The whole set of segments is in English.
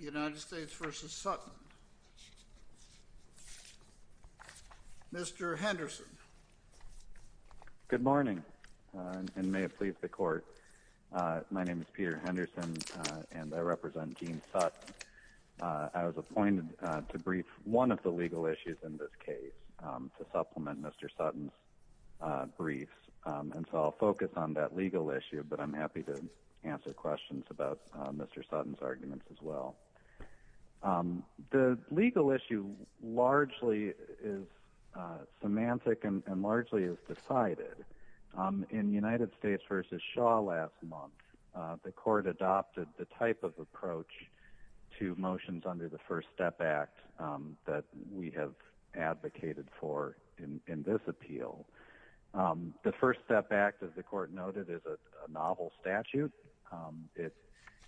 United States v. Sutton. Mr. Henderson. Good morning and may it please the court. My name is Peter Henderson and I represent Gene Sutton. I was appointed to brief one of the legal issues in this case to supplement Mr. Sutton's briefs and so I'll focus on that legal issue but I'm happy to answer questions about Mr. Sutton's arguments as well. The legal issue largely is semantic and largely is decided. In United States v. Shaw last month the court adopted the type of approach to motions under the First Step Act that we have advocated for in this case.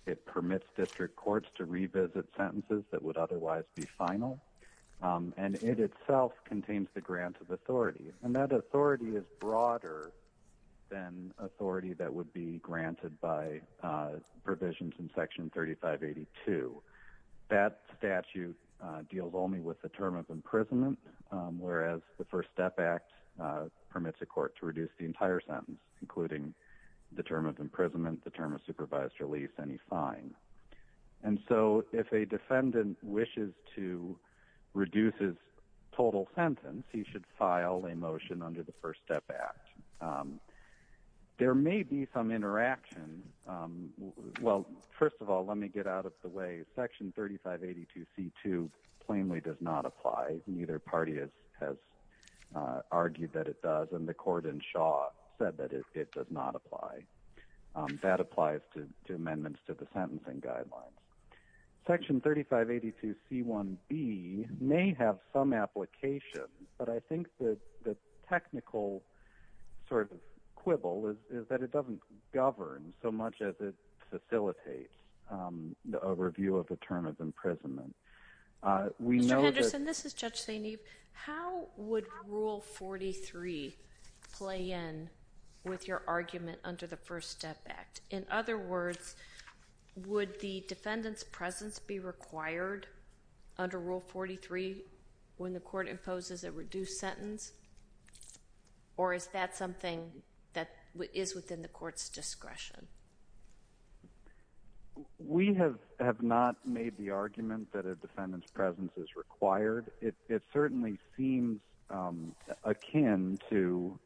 It permits district courts to revisit sentences that would otherwise be final and it itself contains the grant of authority and that authority is broader than authority that would be granted by provisions in Section 3582. That statute deals only with the term of imprisonment whereas the First Step Act permits a court to reduce the entire sentence including the term of imprisonment, the term of supervised release, any fine. And so if a defendant wishes to reduce his total sentence he should file a motion under the First Step Act. There may be some interaction. Well first of all let me get out of the way. Section 3582c2 plainly does not apply. Neither party has argued that it does and the court in Shaw said that it does not apply. That applies to amendments to the sentencing guidelines. Section 3582c1b may have some application but I think that the technical sort of quibble is that it doesn't govern so much as it facilitates the overview of the term of imprisonment. Mr. Henderson, this is Judge We have not made the argument that a defendant's presence is required. It certainly seems akin to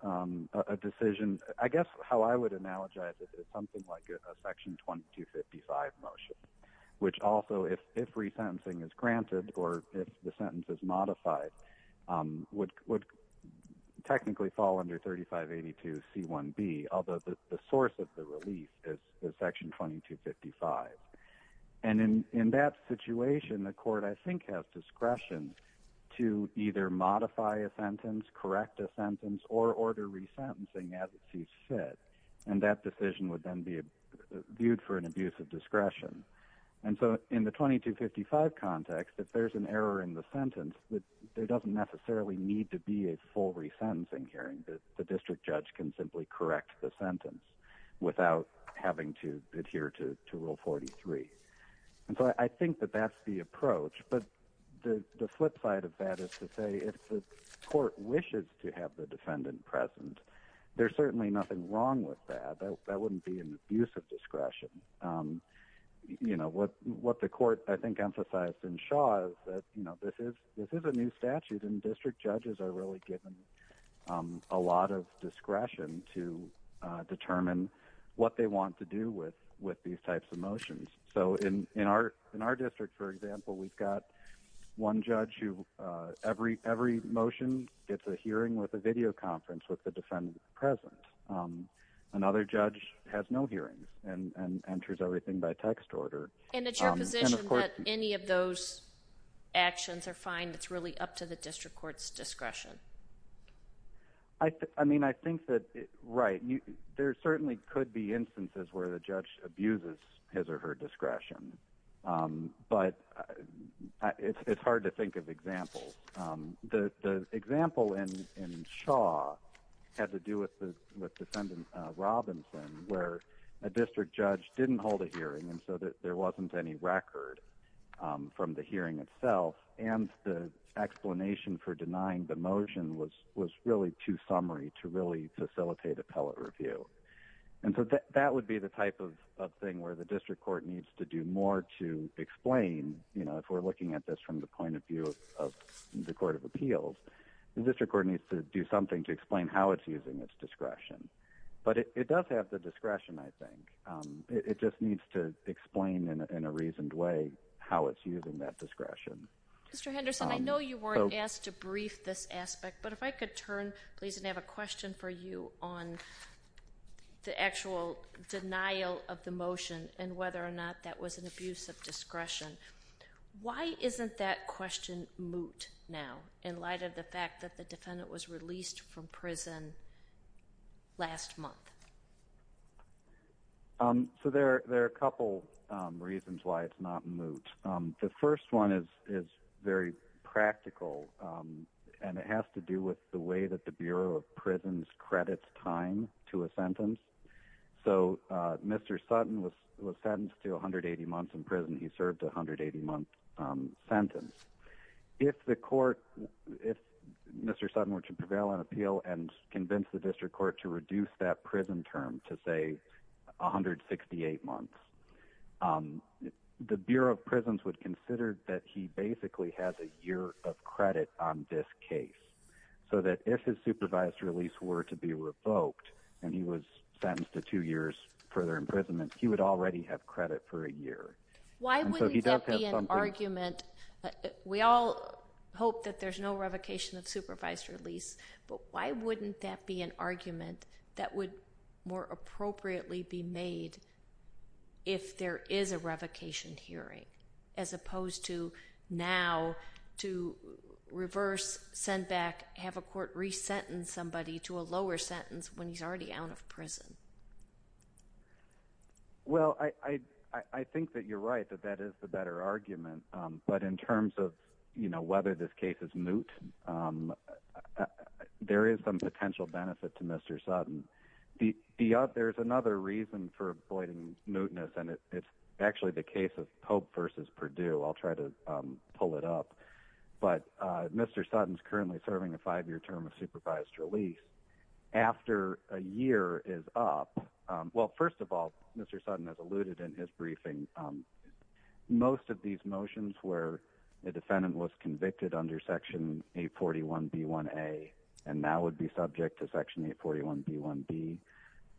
a decision I guess how I would analogize it is something like a section 2255 motion which also if if resentencing is granted or if the sentence is modified would technically fall under 3582c1b although the source of the release is section 2255. And in that situation the court I think has discretion to either modify a sentence correct a sentence or order resentencing as it sees fit and that decision would then be viewed for an abuse of discretion. And so in the 2255 context if there's an error in the sentence that there doesn't necessarily need to be a full resentencing hearing that the district judge can simply correct the sentence without having to adhere to rule 43. And so I think that that's the approach but the flip side of that is to say if the court wishes to have the defendant present there's certainly nothing wrong with that. That wouldn't be an abuse of discretion. You know what what the court I think emphasized in Shaw is that you know this is this is a new statute and district judges are really given a lot of these types of motions. So in in our in our district for example we've got one judge who every every motion gets a hearing with a video conference with the defendant present. Another judge has no hearings and enters everything by text order. And it's your position that any of those actions are fine that's really up to the district courts discretion? I mean I think that right you there certainly could be instances where the judge abuses his or her discretion but it's hard to think of examples. The example in Shaw had to do with the defendant Robinson where a district judge didn't hold a hearing and so that there wasn't any record from the hearing itself and the explanation for denying the motion was was really too summary to really facilitate appellate review. And so that would be the type of thing where the district court needs to do more to explain you know if we're looking at this from the point of view of the Court of Appeals the district court needs to do something to explain how it's using its discretion. But it does have the discretion I think. It just needs to explain in a reasoned way how it's using that discretion. Mr. Henderson I know you weren't asked to brief this aspect but if I could turn please and have a question for you on the actual denial of the motion and whether or not that was an abuse of discretion. Why isn't that question moot now in light of the fact that the defendant was released from prison last month? So there are a couple reasons why it's not moot. The first one is is very practical and it has to do with the way that the Bureau of Prisons credits time to a sentence. So Mr. Sutton was sentenced to 180 months in prison. He served a 180 month sentence. If the court if Mr. Sutton were to prevail on appeal and convince the the Bureau of Prisons would consider that he basically has a year of credit on this case. So that if his supervised release were to be revoked and he was sentenced to two years further imprisonment he would already have credit for a year. Why wouldn't that be an argument? We all hope that there's no revocation of supervised release but why wouldn't that be an argument that would more appropriately be made if there is a revocation hearing as opposed to now to reverse send back have a court resent and somebody to a lower sentence when he's already out of prison. Well I I think that you're right that that is the better argument but in terms of you know whether this case is moot there is some potential benefit to Mr. Sutton. There's another reason for avoiding mootness and it's actually the case of Pope versus Purdue. I'll try to pull it up but Mr. Sutton is currently serving a five-year term of supervised release after a year is up. Well first of all Mr. Sutton has alluded in his briefing most of these motions where the defendant was convicted under section 841 B1a and now would be subject to section 841 B1b.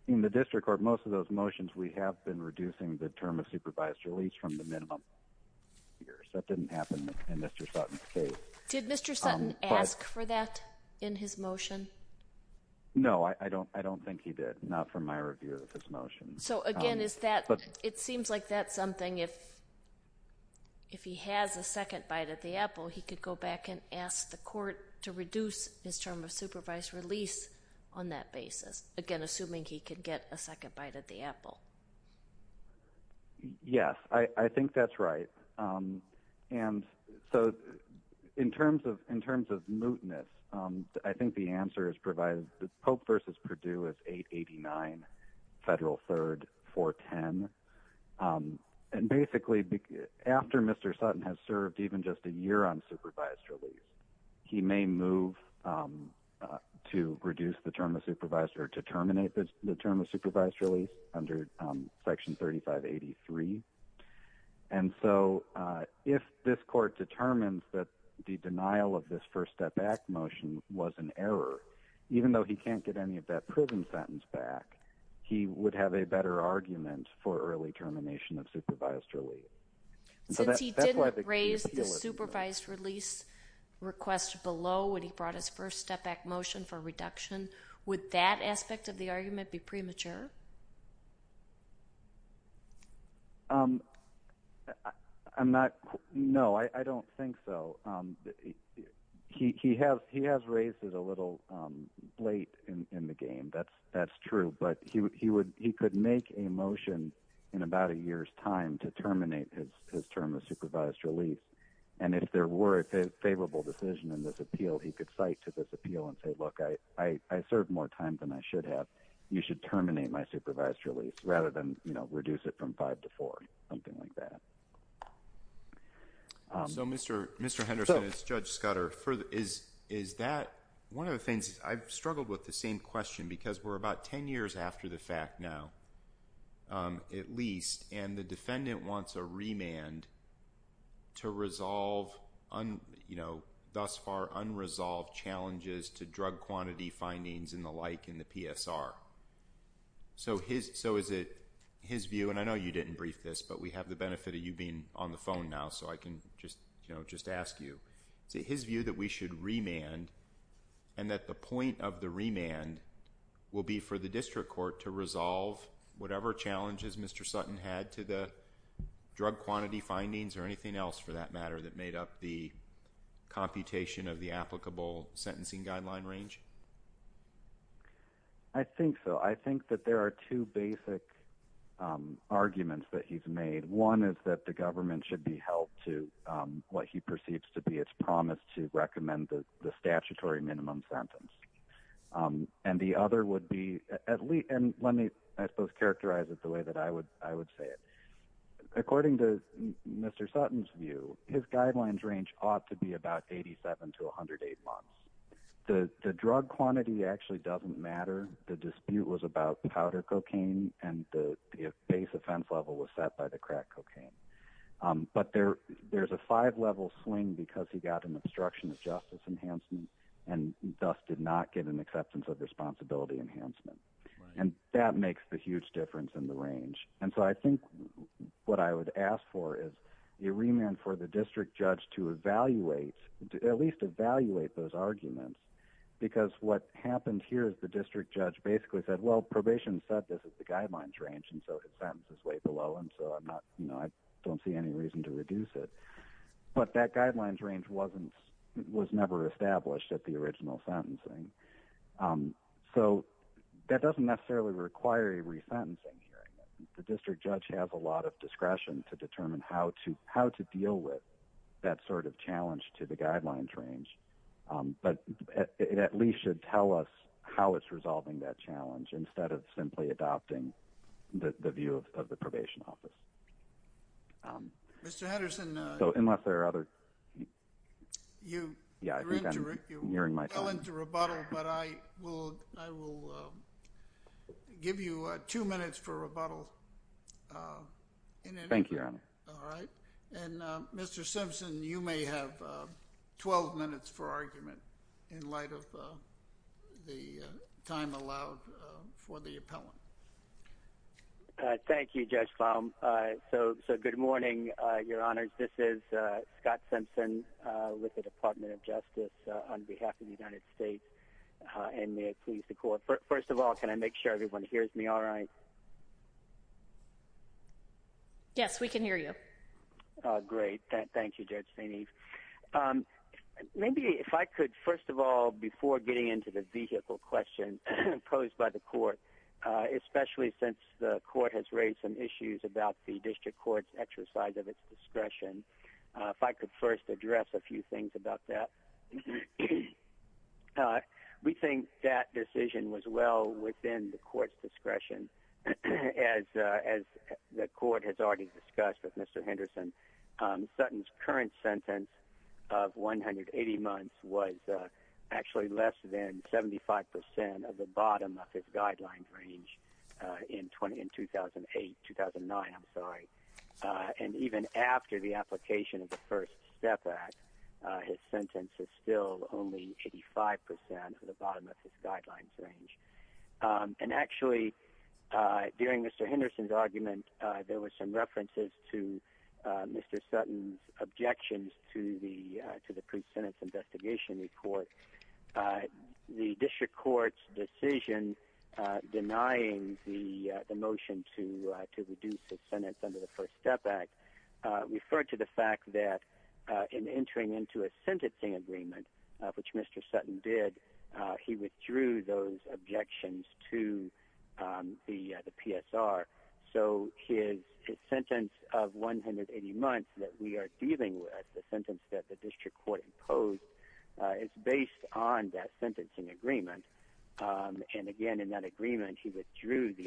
In the district court most of those motions we have been reducing the term of supervised release from the minimum years. That didn't happen in Mr. Sutton's case. Did Mr. Sutton ask for that in his motion? No I don't I don't think he did not from my review of his motion. So again is that but it seems like that's something if if he has a second bite at the apple he could go back and ask the court to reduce his term of supervised release on that basis again assuming he could get a second bite at the apple. Yes I think that's right and so in terms of in terms of mootness I think the answer is provided that Pope versus Purdue is 889 Federal 3rd 410 and basically after Mr. Sutton has served even just a year on supervised release he may move to reduce the term of supervised or to terminate the term of supervised release under section 3583 and so if this court determines that the denial of this first step back motion was an error even though he can't get any of that proven sentence back he would have a better argument for early termination of the supervised release request below when he brought his first step back motion for reduction would that aspect of the argument be premature? I'm not no I don't think so he has he has raised it a little late in the game that's that's true but he would he would he could make a motion in about a year's time to terminate my supervised release and if there were a favorable decision in this appeal he could cite to this appeal and say look I I served more time than I should have you should terminate my supervised release rather than you know reduce it from five to four something like that. So Mr. Henderson as Judge Scudder further is is that one of the things I've struggled with the same question because we're about ten years after the fact now at least and the resolve on you know thus far unresolved challenges to drug quantity findings in the like in the PSR so his so is it his view and I know you didn't brief this but we have the benefit of you being on the phone now so I can just you know just ask you see his view that we should remand and that the point of the remand will be for the district court to resolve whatever challenges Mr. Sutton had to the drug quantity findings or anything else for that matter that made up the computation of the applicable sentencing guideline range? I think so I think that there are two basic arguments that he's made one is that the government should be held to what he perceives to be its promise to recommend the statutory minimum sentence and the other would be at least and let me I would characterize it the way that I would I would say it according to Mr. Sutton's view his guidelines range ought to be about 87 to 108 months the drug quantity actually doesn't matter the dispute was about powder cocaine and the base offense level was set by the crack cocaine but there there's a five level swing because he got an obstruction of justice enhancement and thus did not get an acceptance of responsibility enhancement and that makes the huge difference in the range and so I think what I would ask for is a remand for the district judge to evaluate at least evaluate those arguments because what happened here is the district judge basically said well probation said this is the guidelines range and so his sentence is way below and so I'm not you know I don't see any reason to reduce it but that guidelines range wasn't was never established at the original sentencing so that doesn't necessarily require a resentencing hearing the district judge has a lot of discretion to determine how to how to deal with that sort of challenge to the guidelines range but it at least should tell us how it's resolving that challenge instead of simply adopting the view of the probation office so unless there are you yeah I give you two minutes for rebuttal thank you your honor all right and mr. Simpson you may have 12 minutes for argument in light of the time allowed for the appellant thank you judge palm so so good morning your honors this is Scott Simpson with the Department of Justice on behalf of the United States and may I please the court first of all can I make sure everyone hears me all right yes we can hear you great thank you judge St. Eve maybe if I could first of all before getting into the vehicle question posed by the court especially since the court has raised some issues about the district courts exercise of its discretion if I could first address a few things about that we think that decision was well within the court's discretion as as the court has already discussed with mr. Henderson Sutton's current sentence of 180 months was actually less than 75 percent of the bottom of his guidelines range in 20 in 2008-2009 I'm sorry and even after the application of the first step back his sentence is still only 85 percent of the bottom of his guidelines range and actually during mr. Henderson's argument there were some references to mr. Sutton's objections to the to the pre-sentence investigation report the to reduce the sentence under the First Step Act referred to the fact that in entering into a sentencing agreement which mr. Sutton did he withdrew those objections to the the PSR so his sentence of 180 months that we are dealing with the sentence that the district court imposed it's based on that sentencing agreement and again in that agreement he withdrew the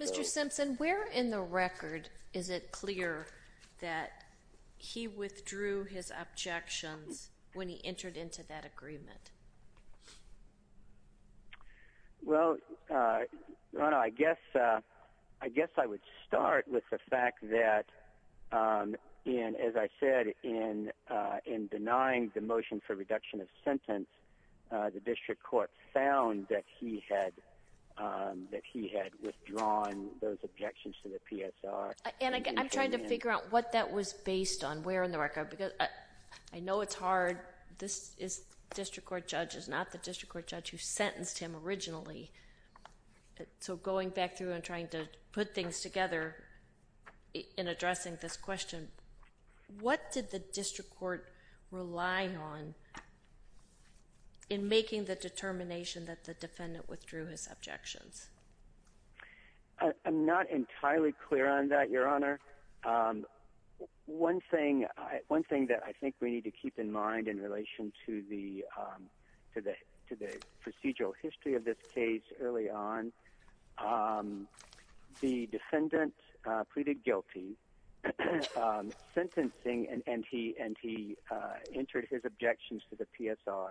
Mr. Simpson where in the record is it clear that he withdrew his objections when he entered into that agreement well I guess I guess I would start with the fact that in as I said in in denying the motion for reduction of sentence the objections to the PSR and I'm trying to figure out what that was based on where in the record because I know it's hard this is district court judge is not the district court judge who sentenced him originally so going back through and trying to put things together in addressing this question what did the district court rely on in making the determination that the defendant withdrew his objections I'm not entirely clear on that your honor one thing I one thing that I think we need to keep in mind in relation to the to the to the procedural history of this case early on the defendant pleaded guilty sentencing and he and he entered his objections to the PSR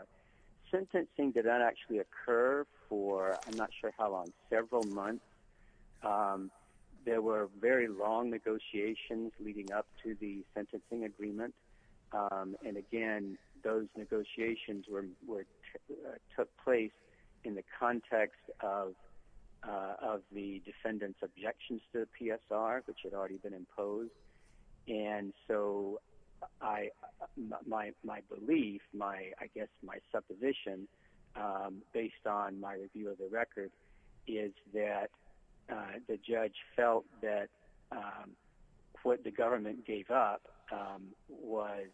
sentencing did that actually occur for I'm not sure how on several months there were very long negotiations leading up to the sentencing agreement and again those negotiations were took place in the context of of the defendants objections to the PSR which had already been imposed and so I my belief my I guess my supposition based on my review of the record is that the judge felt that what the government gave up was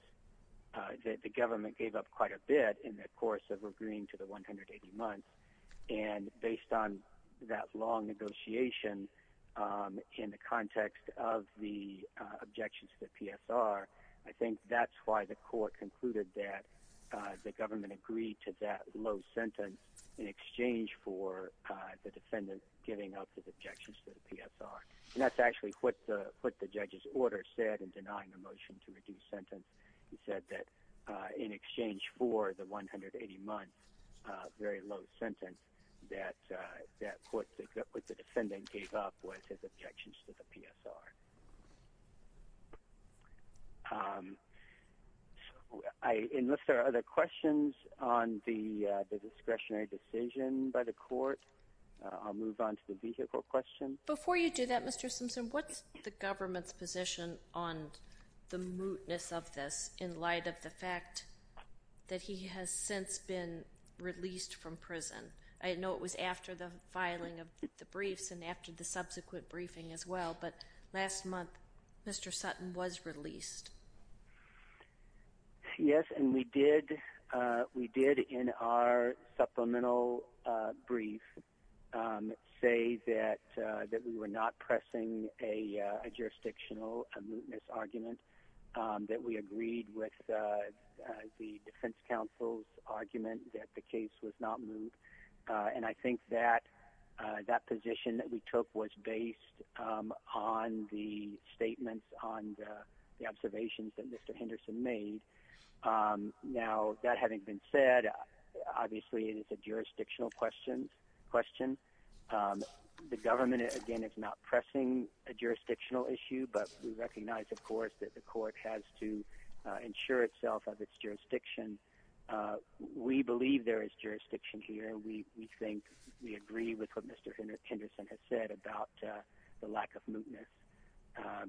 that the government gave up quite a bit in the course of agreeing to the 180 months and based on that long negotiation in the context of the objections to the PSR I think that's why the court concluded that the government agreed to that low sentence in exchange for the defendant giving up his objections to the PSR and that's actually what the what the judge's order said in denying the motion to reduce sentence he said that in exchange for the 180 months very low sentence that that court with the other questions on the discretionary decision by the court I'll move on to the vehicle question before you do that mr. Simpson what's the government's position on the mootness of this in light of the fact that he has since been released from prison I know it was after the filing of the briefs and after the we did we did in our supplemental brief say that that we were not pressing a jurisdictional a mootness argument that we agreed with the defense counsel's argument that the case was not moved and I think that that position that we took was based on the statements on the observations that mr. Henderson made now that having been said obviously it is a jurisdictional questions question the government again it's not pressing a jurisdictional issue but we recognize of course that the court has to ensure itself of its jurisdiction we believe there is jurisdiction here we we think we agree with what mr. Henderson has said about the lack of mootness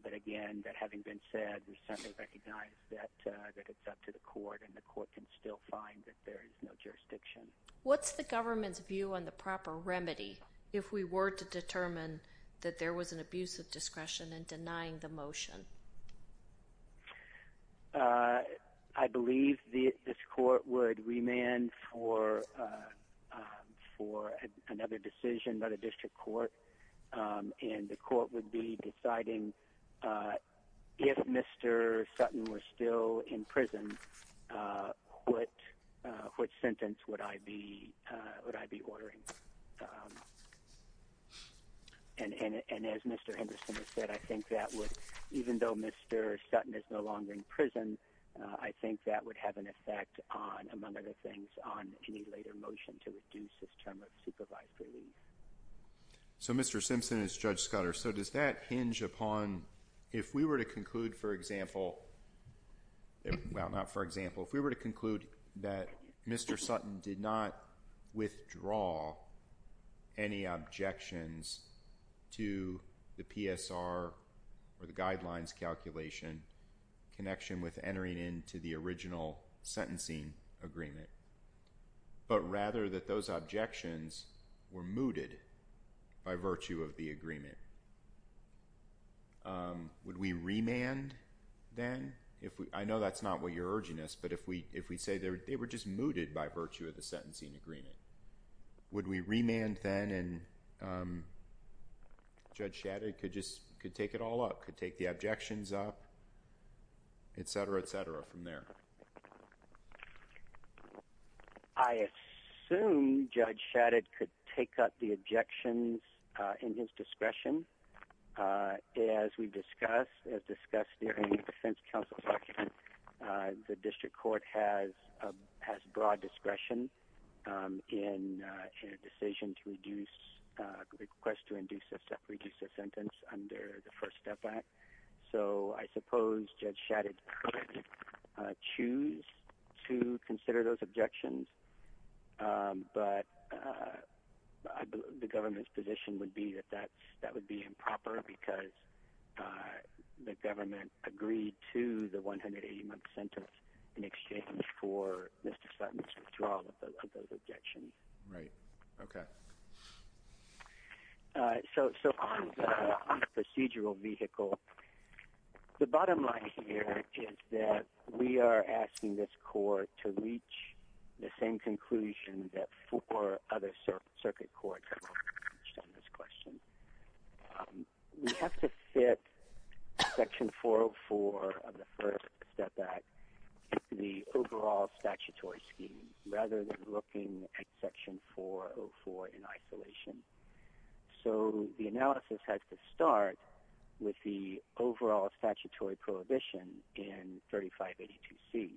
but again that having been said we certainly recognize that that it's up to the court and the court can still find that there is no jurisdiction what's the government's view on the proper remedy if we were to determine that there was an abuse of discretion and denying the motion I believe the this court would remand for for another decision but a court and the court would be deciding if mr. Sutton were still in prison what which sentence would I be would I be ordering and as mr. Henderson has said I think that would even though mr. Sutton is no longer in prison I think that would have an effect on among other things on any later motion to reduce so mr. Simpson is judge Scudder so does that hinge upon if we were to conclude for example well not for example if we were to conclude that mr. Sutton did not withdraw any objections to the PSR or the guidelines calculation connection with entering into the original sentencing agreement but rather that those objections were mooted by virtue of the agreement would we remand then if we I know that's not what you're urging us but if we if we say there they were just mooted by virtue of the sentencing agreement would we remand then and judge Shadid could just could take it all up could take the objections up etc etc from there I assume judge Shadid could take up the objections in his discretion as we discuss as discussed during the defense counsel section the district court has has broad discretion in a decision to reduce request to induce a separate use of sentence under the first step back so I suppose judge Shadid choose to consider those objections but the government's position would be that that that would be improper because the government agreed to the 180 month sentence in exchange for mr. Sutton's withdrawal of those objections right okay so so on the procedural vehicle the bottom line here is that we are asking this court to reach the same conclusion that for other circuit courts on this question we have to fit section 404 of the first step back the overall statutory scheme rather than looking at section 404 in isolation so the analysis has to start with the overall statutory prohibition in 3582 C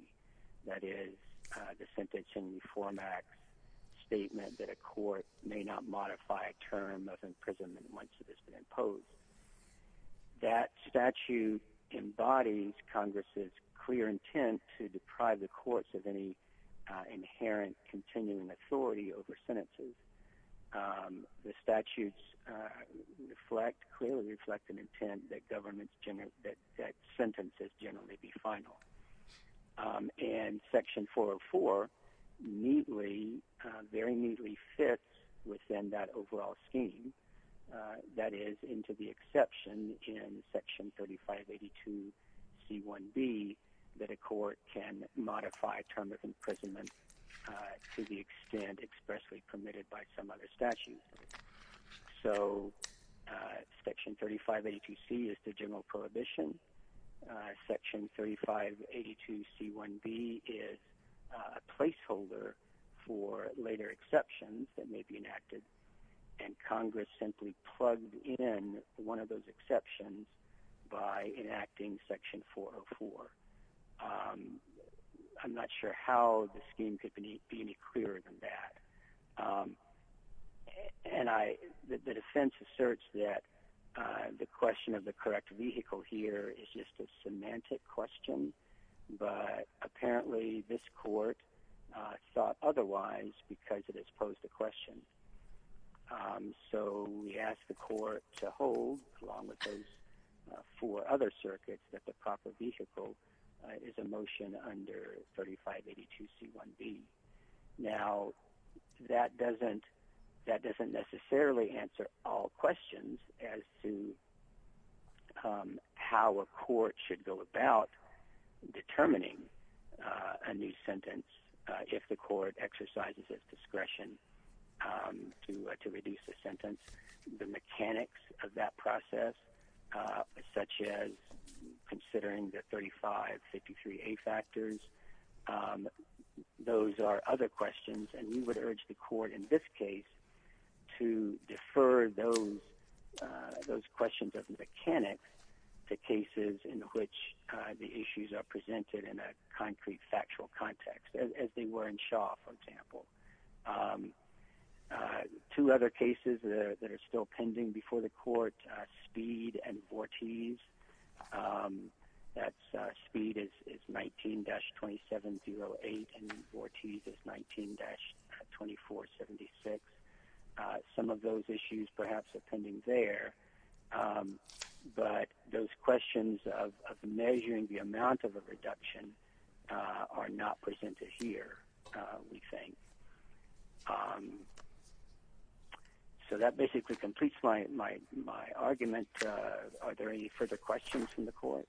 that is the sentencing reform act statement that a court may not modify a term of imprisonment once it has been imposed that statute embodies Congress's clear to deprive the courts of any inherent continuing authority over sentences the statutes reflect clearly reflect an intent that governments general that that sentences generally be final and section 404 neatly very neatly fits within that overall scheme that is into the exception in section 3582 C 1 B that a court can modify term of imprisonment to the extent expressly permitted by some other statute so section 3582 C is the general prohibition section 3582 C 1 B is a placeholder for later exceptions that may be enacted and Congress simply plugged in one of those exceptions by enacting section 404 I'm not sure how the scheme could be any clearer than that and I the defense asserts that the question of the correct vehicle here is just a semantic question but apparently this court thought otherwise because it has posed the question so we asked the court to hold along with those four other circuits that the proper vehicle is a motion under 3582 C 1 B now that doesn't that doesn't necessarily answer all questions as to how a court should go about determining a new sentence if the court exercises its discretion to reduce the sentence the mechanics of that process such as considering the 3553 a factors those are other questions and we would urge the court in this case to defer those those questions of mechanics the cases in which the issues are presented in a concrete factual context as they were in Shaw for example two other cases the are still pending before the court speed and Vortes that speed is 19-2708 and Vortes is 19-2476 some of those issues perhaps are pending there but those questions of measuring the amount of a reduction are not presented here we so that basically completes my argument are there any further questions from the court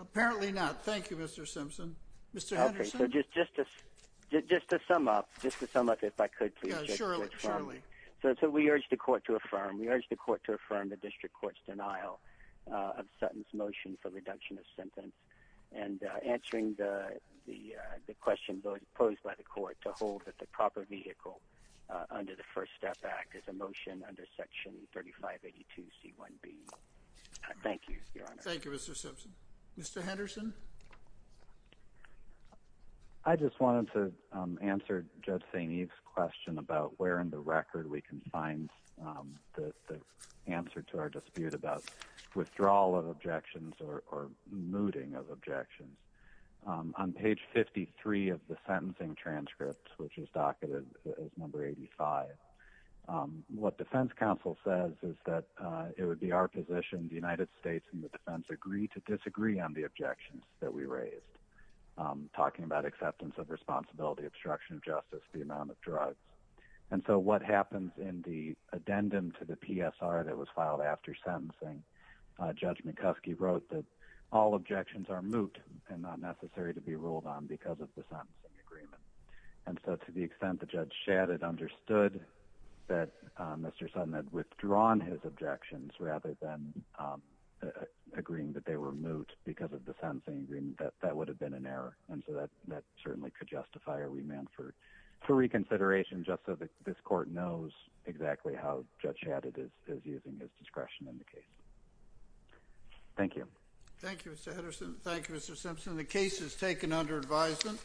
apparently not thank you mr. Simpson mr. okay so just justice just to sum up just to sum up if I could so we urge the court to affirm we urge the court to affirm the district courts denial of Sutton's motion for reduction of sentence and answering the the questions posed by the court to hold that the proper vehicle under the first step back is a motion under section 3582 c1b thank you mr. Simpson mr. Henderson I just wanted to answer judge St. Eve's question about where in the record we can find the answer to our dispute about withdrawal of objections or mooting of objections on page 53 of the sentencing transcripts which is docketed as number 85 what defense counsel says is that it would be our position the United States and the defense agree to disagree on the objections that we raised talking about acceptance of responsibility obstruction of justice the amount of drugs and so what happens in the addendum to the PSR that was filed after sentencing judge wrote that all objections are moot and not necessary to be ruled on because of the sentencing agreement and so to the extent the judge shattered understood that mr. Sun had withdrawn his objections rather than agreeing that they were moot because of the sentencing agreement that that would have been an error and so that that certainly could justify a remand for for reconsideration just so that this court knows exactly how judge had it is is using his discretion in the case thank you thank you mr. Henderson thank you mr. Simpson the case is taken under advisement